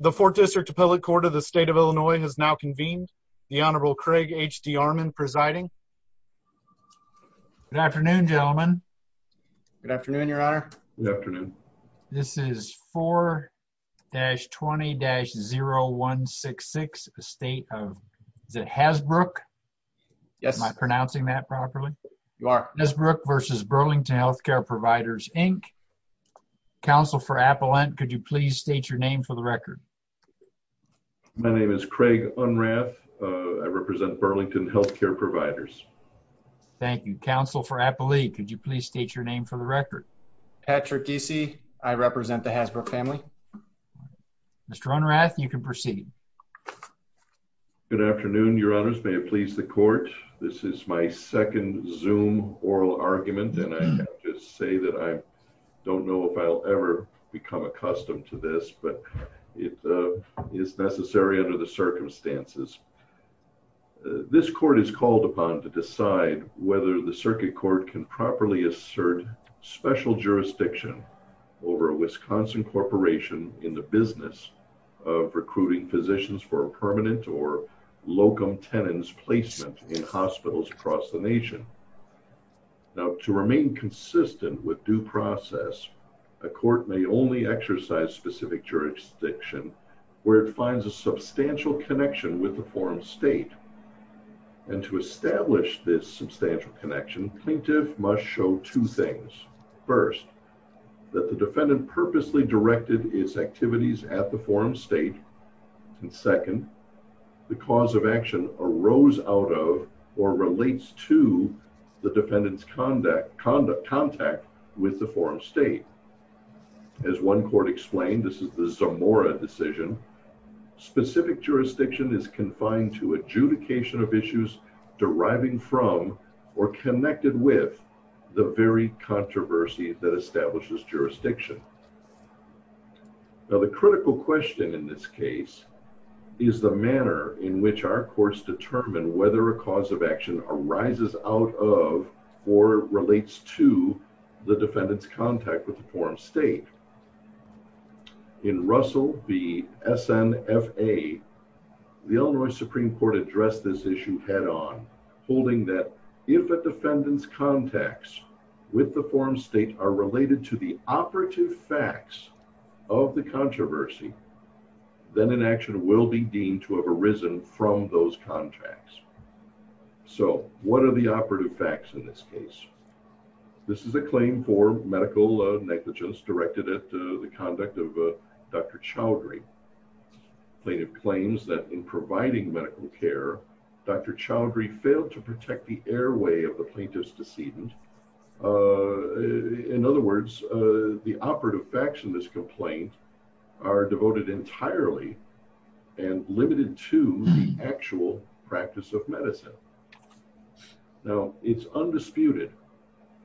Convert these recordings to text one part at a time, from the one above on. The 4th District Appellate Court of the State of Illinois has now convened. The Honorable Craig H.D. Armon presiding. Good afternoon, gentlemen. Good afternoon, your honor. Good afternoon. This is 4-20-0166, a state of... is it Hasbrook? Yes. Am I pronouncing that properly? You are. Hasbrook v. Burlington Healthcare Providers, Inc. Counsel for Appellant, could you please state your name for the record? My name is Craig Unrath. I represent Burlington Healthcare Providers. Thank you. Counsel for Appellate, could you please state your name for the record? Patrick D.C. I represent the Hasbrook family. Mr. Unrath, you can proceed. Good afternoon, your honors. May it please the court. This is my second Zoom oral argument and I'll just say that I don't know if I'll ever become accustomed to this, but it is necessary under the circumstances. This court is called upon to decide whether the circuit court can properly assert special jurisdiction over a Wisconsin corporation in the business of recruiting physicians for permanent or locum tenens placement in hospitals across the nation. Now, to remain consistent with due process, a court may only exercise specific jurisdiction where it finds a substantial connection with the forum state. And to establish this substantial connection, plaintiff must show two things. First, that the defendant purposely directed its activities at the forum state. And second, the cause of action arose out of or relates to the defendant's contact with the forum state. As one court explained, this is the Zamora decision, specific jurisdiction is confined to adjudication of issues deriving from or connected with the very controversy that establishes jurisdiction. Now, the critical question in this case is the manner in which our courts determine whether a cause of action arises out of or relates to the defendant's contact with the forum state. In Russell v. SNFA, the Illinois Supreme Court addressed this issue head-on, holding that if a defendant's contacts with the forum state are related to the operative facts of the controversy, then an action will be deemed to have arisen from those contacts. So, what are the operative facts in this case? This is a claim for medical negligence directed at the conduct of Dr. Chowdhury. Plaintiff claims that in providing medical care, Dr. Chowdhury failed to protect the airway of the plaintiff's decedent. In other words, the operative facts in this complaint are devoted entirely and limited to the actual practice of medicine. Now, it's undisputed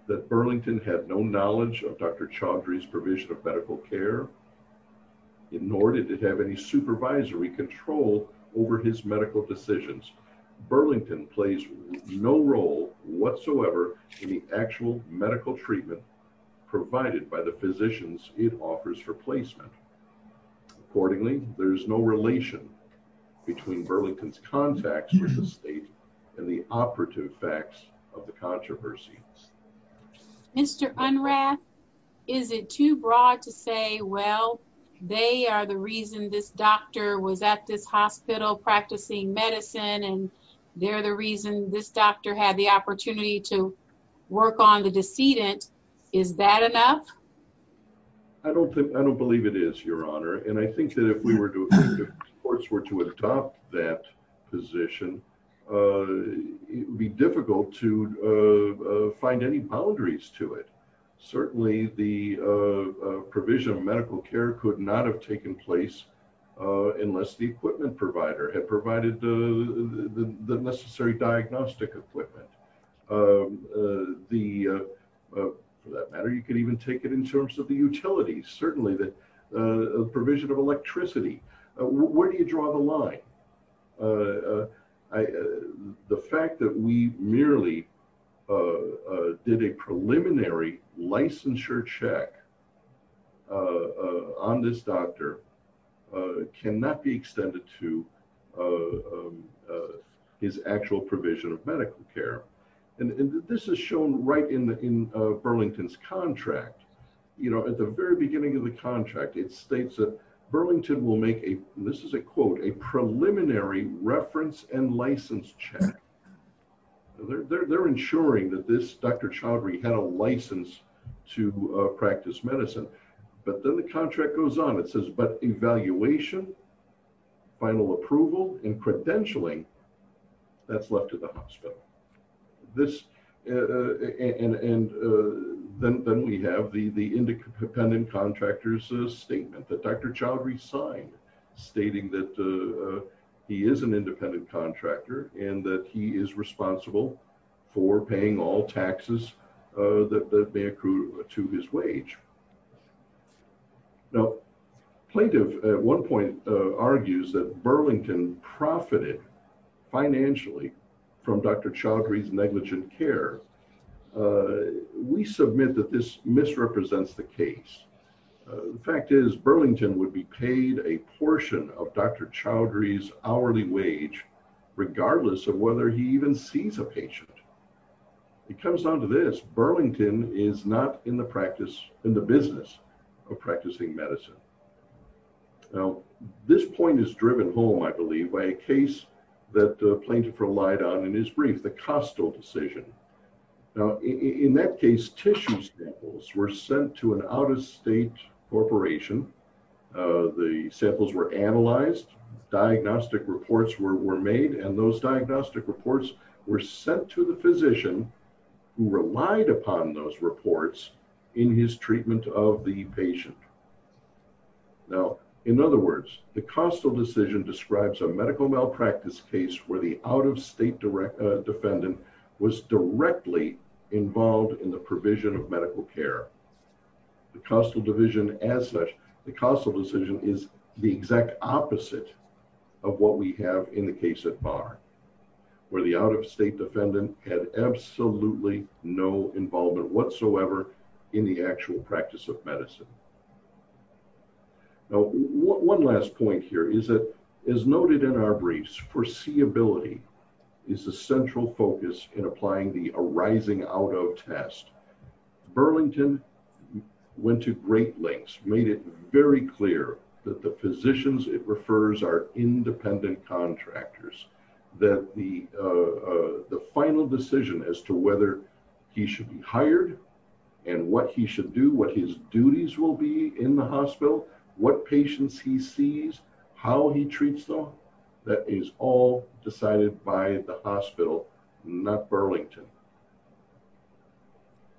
that Burlington had no knowledge of Dr. Chowdhury's provision of medical care, nor did it have any supervisory control over his medical decisions. Burlington plays no role whatsoever in the actual medical treatment provided by the physicians it offers for placement. Accordingly, there is no relation between Burlington's contacts with the state and the operative facts of the controversy. Mr. Unrath, is it too broad to say, well, they are the reason this doctor was at this hospital practicing medicine, and they're the reason this doctor had the opportunity to work on the decedent? Is that enough? I don't think, I don't believe it is, Your Honor, and I think that if we were to courts were to adopt that position, it would be difficult to find any boundaries to it. Certainly, the provision of medical care could not have taken place unless the equipment provider had provided the necessary diagnostic equipment. The, for that matter, you could even take it in terms of the utilities. Certainly, the provision of electricity, where do you draw the line? The fact that we merely did a preliminary licensure check on this doctor cannot be extended to his actual provision of medical care, and this is shown right in Burlington's contract. You know, at the very beginning of the contract, it states that Burlington will make a, this is a quote, a preliminary reference and license check. They're ensuring that this Dr. Chaudhry had a license to practice medicine, but then the contract goes on. It says, but evaluation, final approval, and credentialing, that's left to the hospital. This, and then we have the independent contractor's statement that Dr. Chaudhry signed, stating that he is an independent contractor and that he is responsible for paying all taxes that may accrue to his wage. Now, plaintiff at one point argues that Burlington profited financially from Dr. Chaudhry's negligent care. We submit that this misrepresents the case. The fact is Burlington would be paid a portion of Dr. Chaudhry's hourly wage, regardless of whether he even sees a patient. It comes down to this, Burlington is not in the practice, in the business of practicing medicine. Now, this point is driven home, I believe, by a case that plaintiff relied on in his brief, the Costo decision. Now, in that case, tissue samples were sent to an out-of-state corporation. The samples were analyzed, diagnostic reports were made, and those diagnostic reports were sent to the physician who relied upon those reports in his treatment of the patient. Now, in other words, the Costo decision describes a medical malpractice case where the out-of-state defendant was directly involved in the provision of medical care. The Costo division as such, the Costo decision is the exact opposite of what we have in the where the out-of-state defendant had absolutely no involvement whatsoever in the actual practice of medicine. Now, one last point here is that, as noted in our briefs, foreseeability is the central focus in applying the arising out-of test. Burlington went to great lengths, made it very clear that the physicians it refers are that the final decision as to whether he should be hired and what he should do, what his duties will be in the hospital, what patients he sees, how he treats them, that is all decided by the hospital, not Burlington.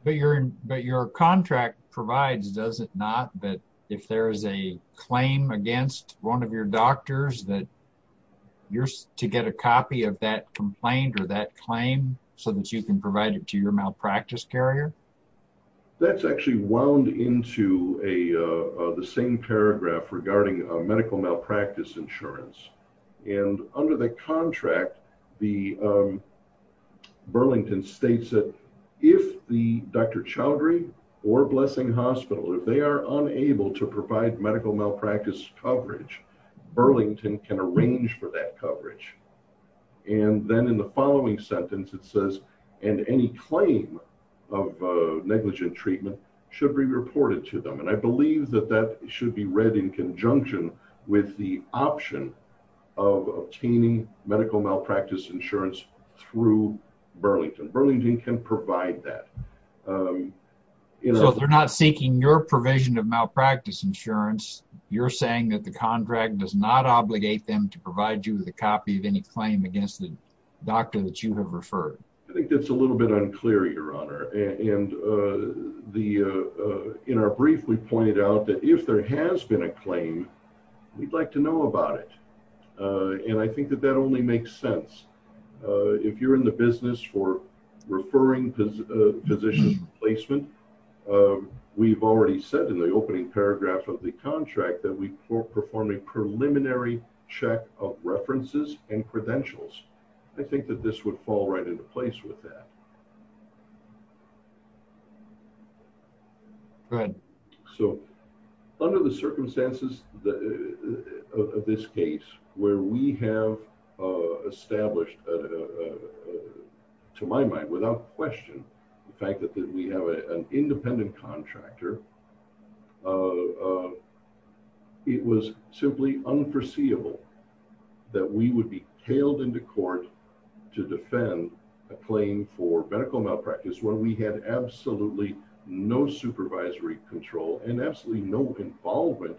But your contract provides, does it not, that if there is a claim against one of your doctors that you're to get a copy of that complaint or that claim so that you can provide it to your malpractice carrier? That's actually wound into the same paragraph regarding medical malpractice insurance. And under the contract, Burlington states that if the Dr. Chowdhury or Blessing Hospital, if they are unable to provide medical malpractice coverage, Burlington can arrange for that coverage. And then in the following sentence it says, and any claim of negligent treatment should be reported to them. And I believe that that should be read in conjunction with the option of obtaining medical malpractice insurance through Burlington. Burlington can provide that. So they're not seeking your provision of malpractice insurance, you're saying that the contract does not obligate them to provide you with a copy of any claim against the doctor that you have referred? I think that's a little bit unclear, your honor. And in our brief we pointed out that if there has been a claim, we'd like to know about it. And I think that that only makes sense. If you're in the business for referring physician placement, we've already said in the opening paragraph of the contract that we perform a preliminary check of references and credentials. I think that this would fall right into place with that. So under the circumstances of this case, where we have established, to my mind without question, the fact that we have an independent contractor, it was simply unforeseeable that we would be tailed into court to defend a claim for medical malpractice when we had absolutely no supervisory control and absolutely no involvement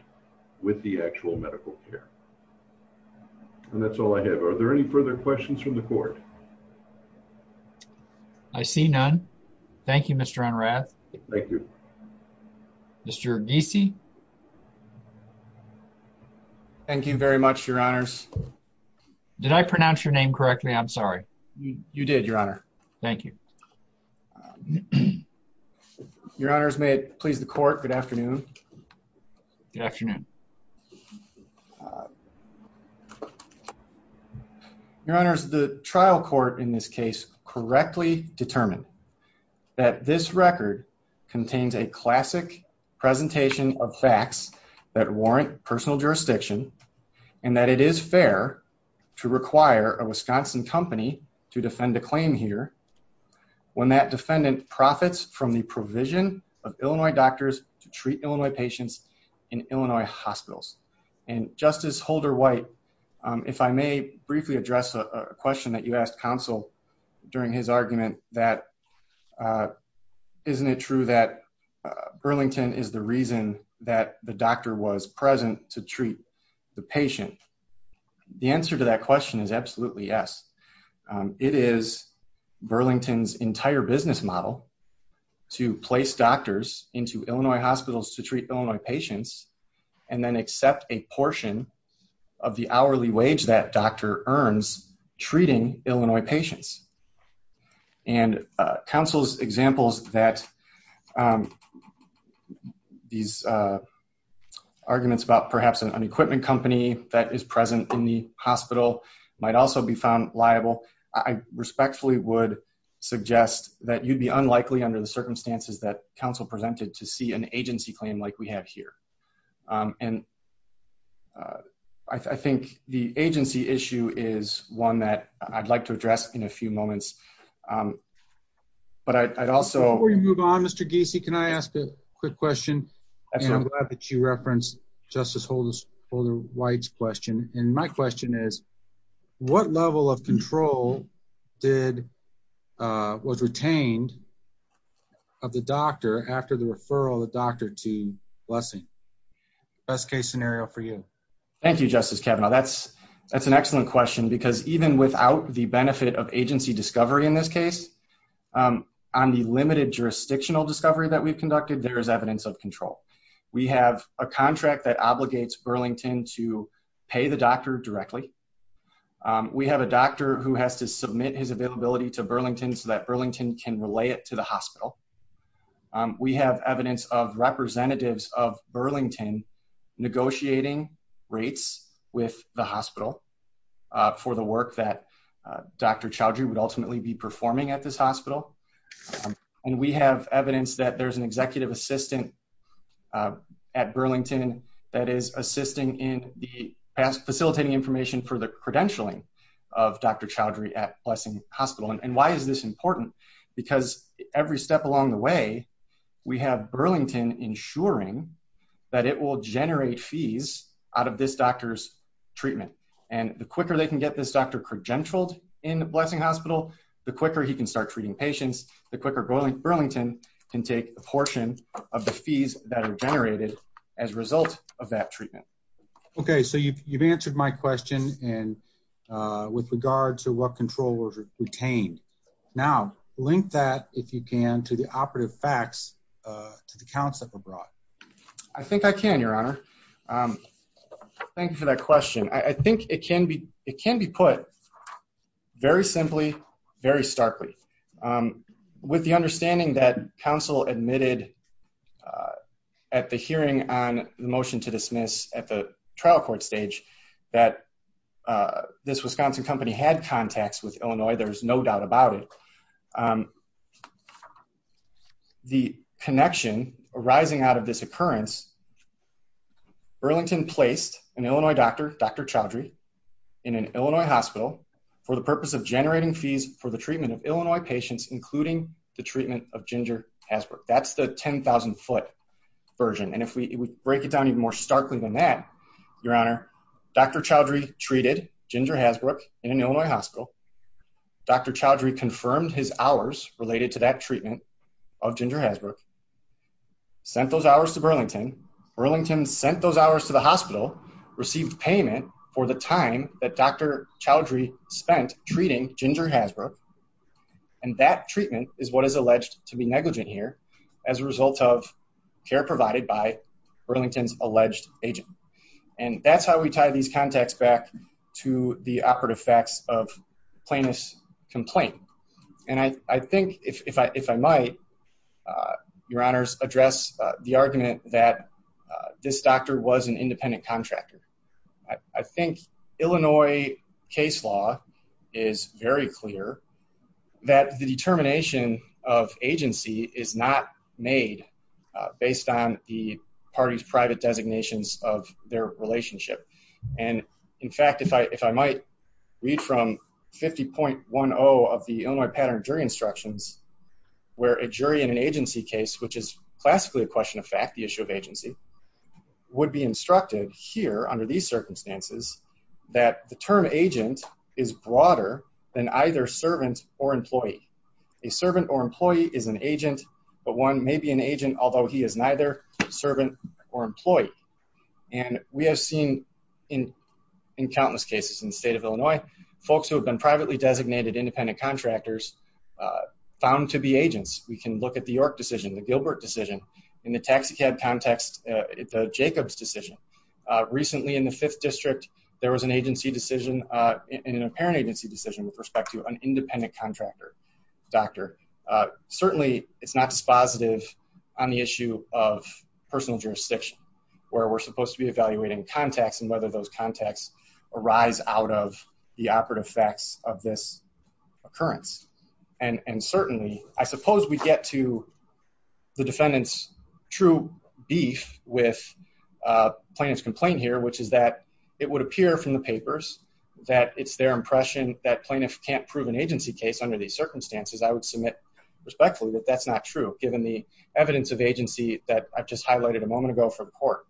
with the actual medical care. And that's all I have. Are there any further questions from the court? I see none. Thank you, Mr. Unrath. Thank you. Mr. Giese. Thank you very much, your honors. Did I pronounce your name correctly? I'm sorry. You did, your honor. Thank you. Your honors, may it please the court, good afternoon. Good afternoon. Your honors, the trial court in this case correctly determined that this record contains a classic presentation of facts that warrant personal jurisdiction and that it is fair to require a Wisconsin company to defend a claim here when that defendant profits from the provision of Illinois doctors to treat Illinois patients in Illinois hospitals. And Justice Holder White, if I may briefly address a question that you asked counsel during his argument that isn't it true that Burlington is the reason that the doctor was present to treat the patient? The answer to that question is absolutely yes. It is Burlington's entire business model to place doctors into Illinois hospitals to treat Illinois patients and then accept a portion of the hourly wage that doctor earns treating Illinois patients. And counsel's examples that these arguments about perhaps an equipment company that is present in the hospital might also be found liable. I respectfully would suggest that you'd be unlikely under the circumstances that counsel presented to see an agency claim like we have here. And I think the agency issue is one that I'd like to address in a few moments. Before we move on, Mr. Giese, can I ask a quick question? I'm glad that you referenced Justice Holder White's question. And my question is, what level of control was retained of the doctor after the referral of the doctor to Blessing? Best case scenario for you. Thank you, Justice Kavanaugh. That's an excellent question because even without the benefit of agency discovery in this case, on the limited jurisdictional discovery that we've conducted, there is evidence of control. We have a contract that obligates Burlington to pay the doctor directly. We have a doctor who has to submit his availability to Burlington so that Burlington can relay it to the hospital. We have evidence of representatives of Burlington negotiating rates with the hospital for the work that Dr. Chowdhury would ultimately be performing at this hospital. And we have evidence that there's an authority at Burlington that is assisting in the past facilitating information for the credentialing of Dr. Chowdhury at Blessing Hospital. And why is this important? Because every step along the way, we have Burlington ensuring that it will generate fees out of this doctor's treatment. And the quicker they can get this doctor credentialed in the Blessing Hospital, the quicker he can start treating patients, the quicker Burlington can take a portion of the fees that are generated as a result of that treatment. Okay, so you've answered my question and with regard to what control was retained. Now, link that, if you can, to the operative facts to the Council of Abroad. I think I can, Your Honor. Thank you for that question. I think it can be put very simply, very starkly. With the understanding that Council admitted at the hearing on the motion to dismiss at the trial court stage that this Wisconsin company had contacts with Illinois, there's no doubt about it. The connection arising out of this occurrence, Burlington placed an Illinois doctor, Dr. Chowdhury, in an Illinois hospital for the purpose of generating fees for the treatment of Illinois patients, including the treatment of Ginger Hasbrook. That's the 10,000 foot version. And if we break it down even more starkly than that, Your Honor, Dr. Chowdhury treated Ginger Hasbrook in an Illinois hospital. Dr. Chowdhury confirmed his hours related to that treatment of Ginger Hasbrook, sent those hours to Burlington. Burlington sent those hours to the time that Dr. Chowdhury spent treating Ginger Hasbrook, and that treatment is what is alleged to be negligent here as a result of care provided by Burlington's alleged agent. And that's how we tie these contacts back to the operative facts of Plaintiff's complaint. And I think, if I might, Your Honors, address the argument that this doctor was an independent contractor. I think Illinois case law is very clear that the determination of agency is not made based on the party's private designations of their relationship. And in fact, if I might read from 50.10 of the Illinois pattern jury instructions, where a jury in an agency case, which is classically a question of fact, the issue of agency, would be instructed here under these circumstances that the term agent is broader than either servant or employee. A servant or employee is an agent, but one may be an agent although he is neither servant or employee. And we have seen in countless cases in the state of Illinois, folks who have been privately designated independent contractors found to be agents. We can look at the Gilbert decision in the taxicab context, the Jacobs decision. Recently in the Fifth District, there was an agency decision, an apparent agency decision, with respect to an independent contractor doctor. Certainly it's not dispositive on the issue of personal jurisdiction, where we're supposed to be evaluating contacts and whether those contacts arise out of the operative facts of this occurrence. And certainly, I suppose we get to the defendant's true beef with plaintiff's complaint here, which is that it would appear from the papers that it's their impression that plaintiff can't prove an agency case under these circumstances. I would submit respectfully that that's not true, given the evidence of agency that I've just highlighted a moment ago for the court.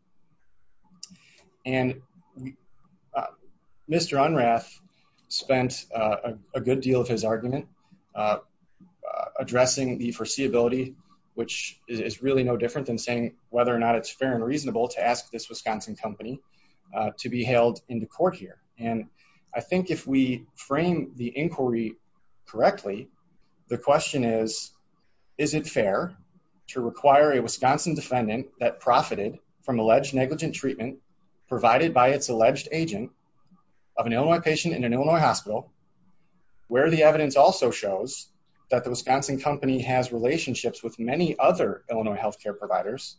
Addressing the foreseeability, which is really no different than saying whether or not it's fair and reasonable to ask this Wisconsin company to be hailed into court here. And I think if we frame the inquiry correctly, the question is, is it fair to require a Wisconsin defendant that profited from alleged negligent treatment provided by its alleged agent of an Illinois patient in an Illinois hospital, where the evidence also shows that the Wisconsin company has relationships with many other Illinois health care providers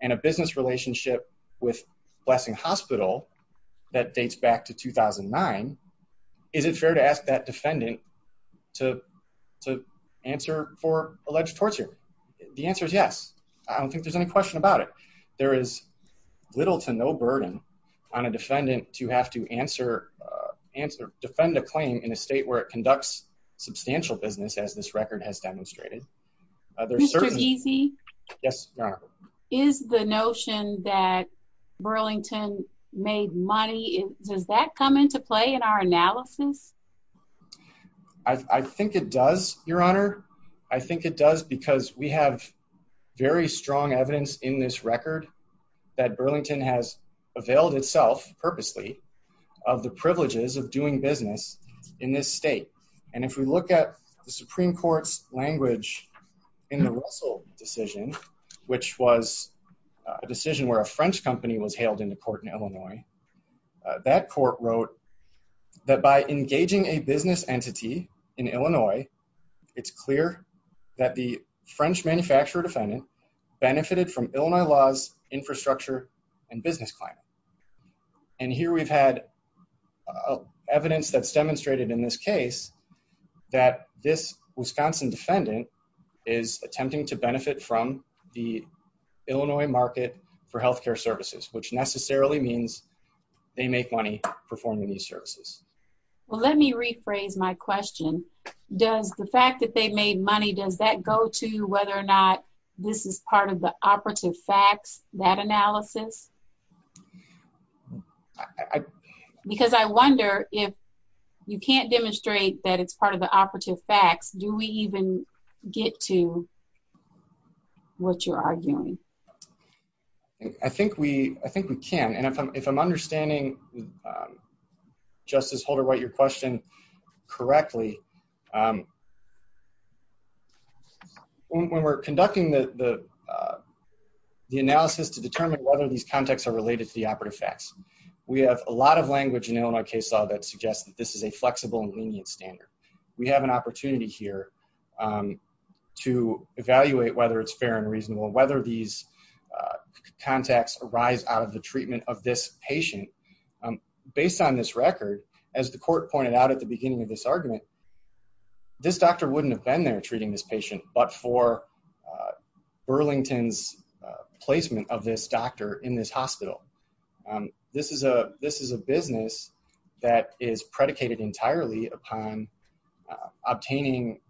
and a business relationship with Blessing Hospital that dates back to 2009? Is it fair to ask that defendant to answer for alleged torture? The answer is yes. I don't think there's any question about it. There is little to no burden on a defendant to have to answer, defend a claim in a state where it conducts substantial business, as this record has demonstrated. Mr. Easy? Yes, Your Honor. Is the notion that Burlington made money, does that come into play in our analysis? I think it does, Your Honor. I think it does because we have very strong evidence in this record that Burlington has availed itself purposely of the privileges of doing business in this state. And if we look at the Supreme Court's language in the Russell decision, which was a decision where a French company was hailed into court in Illinois, that court wrote that by engaging a business entity in Illinois, it's clear that the French manufacturer defendant benefited from and here we've had evidence that's demonstrated in this case that this Wisconsin defendant is attempting to benefit from the Illinois market for health care services, which necessarily means they make money performing these services. Well, let me rephrase my question. Does the fact that they made money, does that go to whether or not this is part of the operative facts, that analysis? Because I wonder if you can't demonstrate that it's part of the operative facts, do we even get to what you're arguing? I think we can, and if I'm understanding, Justice Holder-White, your question correctly, when we're conducting the analysis to determine whether these contexts are related to the operative facts, we have a lot of language in Illinois case law that suggests that this is a flexible and lenient standard. We have an opportunity here to evaluate whether it's fair and reasonable, whether these contacts arise out of the treatment of this patient. Based on this record, as the court pointed out at the beginning of this this doctor wouldn't have been there treating this patient, but for Burlington's placement of this doctor in this hospital. This is a business that is predicated entirely upon obtaining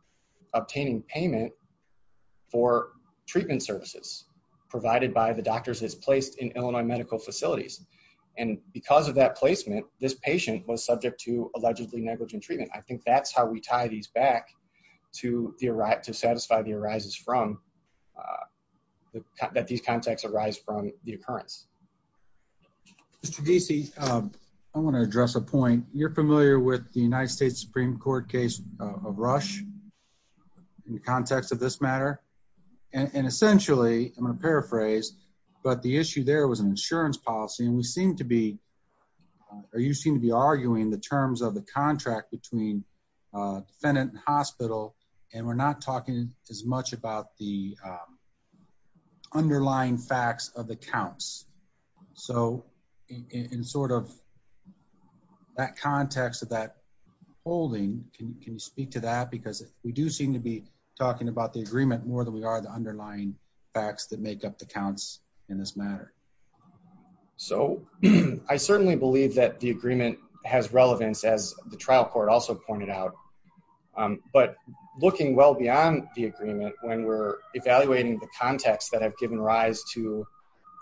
payment for treatment services provided by the doctors that's placed in Illinois medical facilities, and because of that placement, this patient was subject to treatment. We tie these back to satisfy the arises from that these contacts arise from the occurrence. Mr. Deesey, I want to address a point. You're familiar with the United States Supreme Court case of Rush in the context of this matter, and essentially, I'm going to paraphrase, but the issue there was an insurance policy, and we seem to be, or you seem to be arguing the terms of contract between defendant and hospital, and we're not talking as much about the underlying facts of the counts. So in sort of that context of that holding, can you speak to that? Because we do seem to be talking about the agreement more than we are the underlying facts that make up the counts in this matter. So I certainly believe that the agreement has relevance, as the trial court also pointed out, but looking well beyond the agreement when we're evaluating the contacts that have given rise to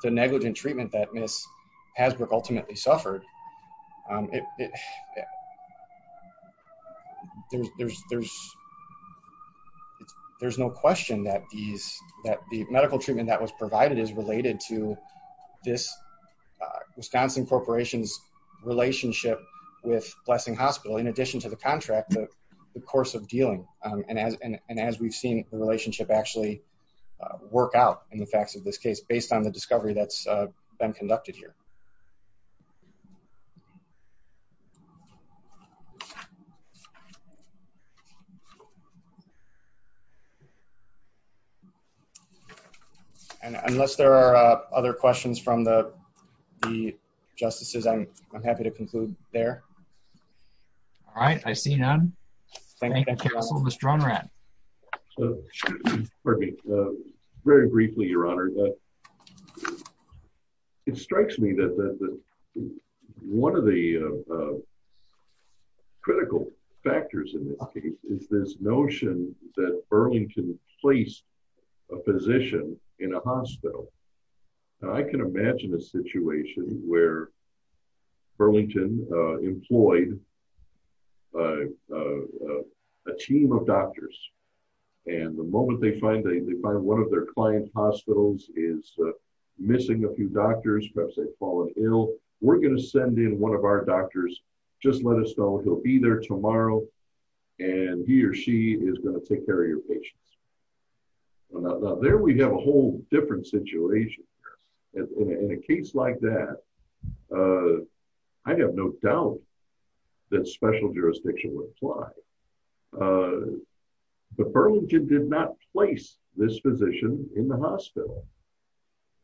the negligent treatment that Ms. Hasbrook ultimately suffered, there's no question that the medical treatment that was provided is related to this Wisconsin Corporation's relationship with Blessing Hospital in addition to the contract, the course of dealing, and as we've seen the relationship actually work out in the facts of this case based on the discovery that's been conducted here. And unless there are other questions from the the justices, I'm happy to conclude there. All right, I see none. Thank you, Counsel. Mr. Unrat. Pardon me. Very briefly, Your Honor, it strikes me that one of the critical factors in this case is that Burlington placed a physician in a hospital. I can imagine a situation where Burlington employed a team of doctors, and the moment they find they find one of their client hospitals is missing a few doctors, perhaps they've fallen ill, we're going to send in one of our doctors, just let us know he'll be there tomorrow, and he or she is going to take care of your patients. Well, now there we have a whole different situation. In a case like that, I have no doubt that special jurisdiction would apply, but Burlington did not place this physician in the hospital.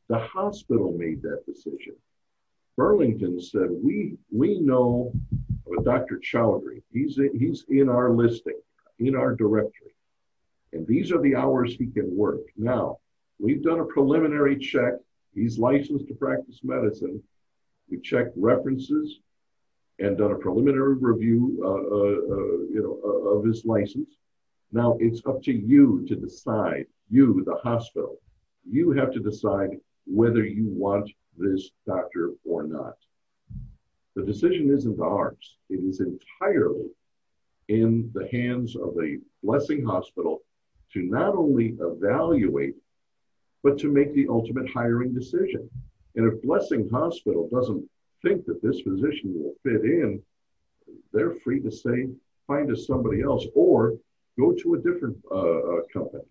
The hospital made that decision. Burlington said, we know Dr. Chowdhury, he's in our listing, in our directory, and these are the hours he can work. Now, we've done a preliminary check, he's licensed to practice medicine, we checked references, and done a preliminary review of his license. Now it's up to you to decide, you, the hospital, you have to decide whether you want this doctor or not. The decision isn't ours, it is entirely in the hands of a blessing hospital to not only evaluate, but to make the ultimate hiring decision. And if blessing hospital doesn't think that this physician will fit in, they're free to say, find us somebody else, or go to a different company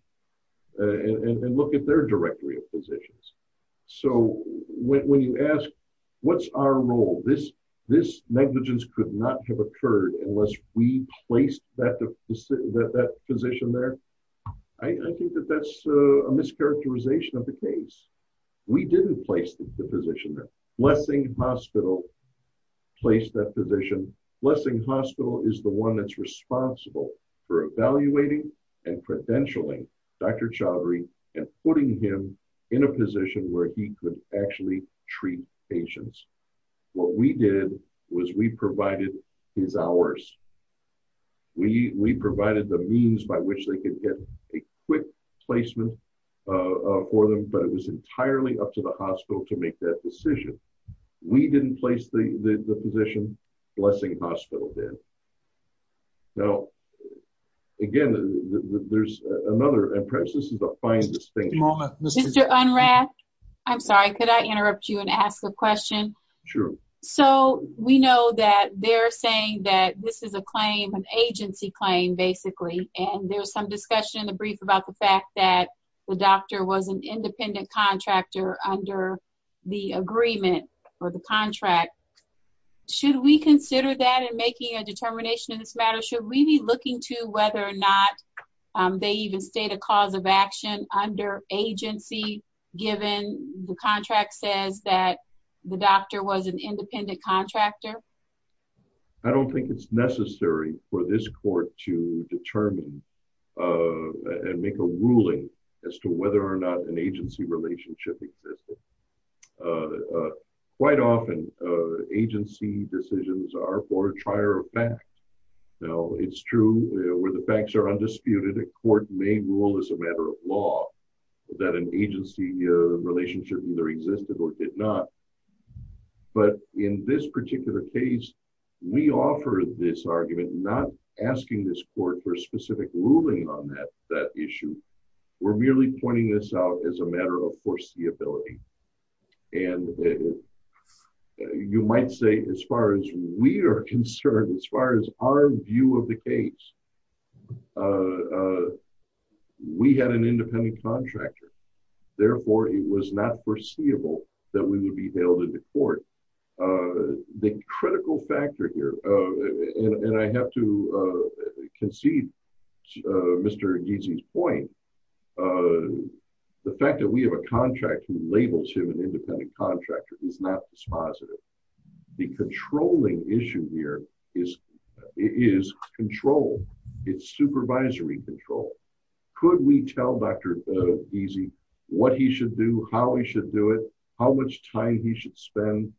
and look at their directory of when you ask, what's our role? This negligence could not have occurred unless we placed that physician there. I think that that's a mischaracterization of the case. We didn't place the physician there. Blessing hospital placed that physician. Blessing hospital is the one that's responsible for evaluating and credentialing Dr. Chowdhury and putting him in a position where he could actually treat patients. What we did was we provided his hours. We provided the means by which they could get a quick placement for them, but it was entirely up to the hospital to make that decision. We didn't place the the physician, blessing hospital did. Now again, there's another, and perhaps this is the finest thing. Mr. Unrath, I'm sorry, could I interrupt you and ask a question? Sure. So we know that they're saying that this is a claim, an agency claim basically, and there's some discussion in the brief about the fact that the doctor was an independent contractor under the agreement or the contract. Should we consider that in making a determination in this matter? Should we be looking to whether or not they even state a cause of action under agency given the contract says that the doctor was an independent contractor? I don't think it's necessary for this court to determine and make a ruling as to whether or not an agency relationship existed. Quite often agency decisions are for a trier of fact. Now it's true where the facts are disputed, a court may rule as a matter of law that an agency relationship either existed or did not. But in this particular case, we offer this argument not asking this court for specific ruling on that issue. We're merely pointing this out as a matter of foreseeability. And you might say as far as we are concerned, as far as our view of the case, we had an independent contractor, therefore it was not foreseeable that we would be hailed into court. The critical factor here, and I have to concede Mr. Gizzi's point, the fact that we have a contract who labels him an independent contractor is not dispositive. The controlling issue here is control. It's supervisory control. Could we tell Dr. Gizzi what he should do, how he should do it, how much time he should spend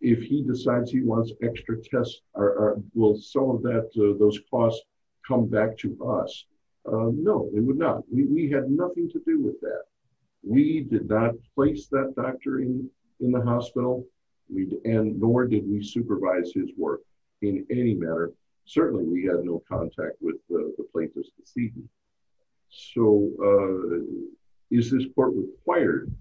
if he decides he wants extra tests? Will some of that, those costs come back to us? No, it would not. We had nothing to do with that. We did not place that doctor in the hospital, and nor did we supervise his work in any manner. Certainly we had no contact with the plaintiff's proceedings. So is this court required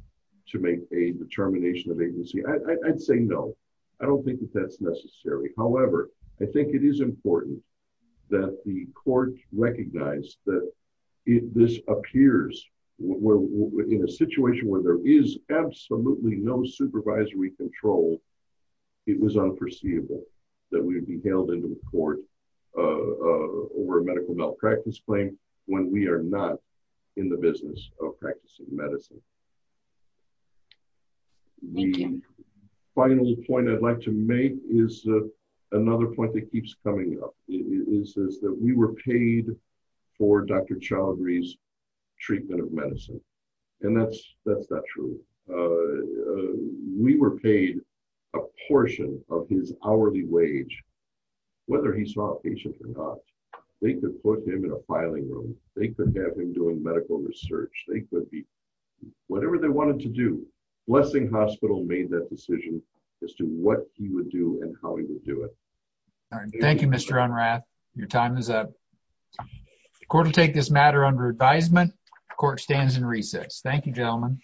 to make a determination of agency? I'd say no. I don't think that that's necessary. However, I think it is important that the court recognize that if this appears in a situation where there is absolutely no supervisory control, it was unforeseeable that we would be hailed into court over a medical malpractice claim when we are not in the business of practicing medicine. The final point I'd like to make is another point that keeps coming up. It says that we were paid for Dr. Chaudhry's treatment of medicine, and that's not true. We were paid a portion of his hourly wage, whether he saw a patient or not. They could put him in a filing room. They could have him doing medical research. They could be whatever they wanted to do. Blessing Hospital made that decision as to what he would do and how he would do it. Thank you, Mr. Unrath. Your time is up. The court will take this matter under advisement. The court stands in recess. Thank you, gentlemen.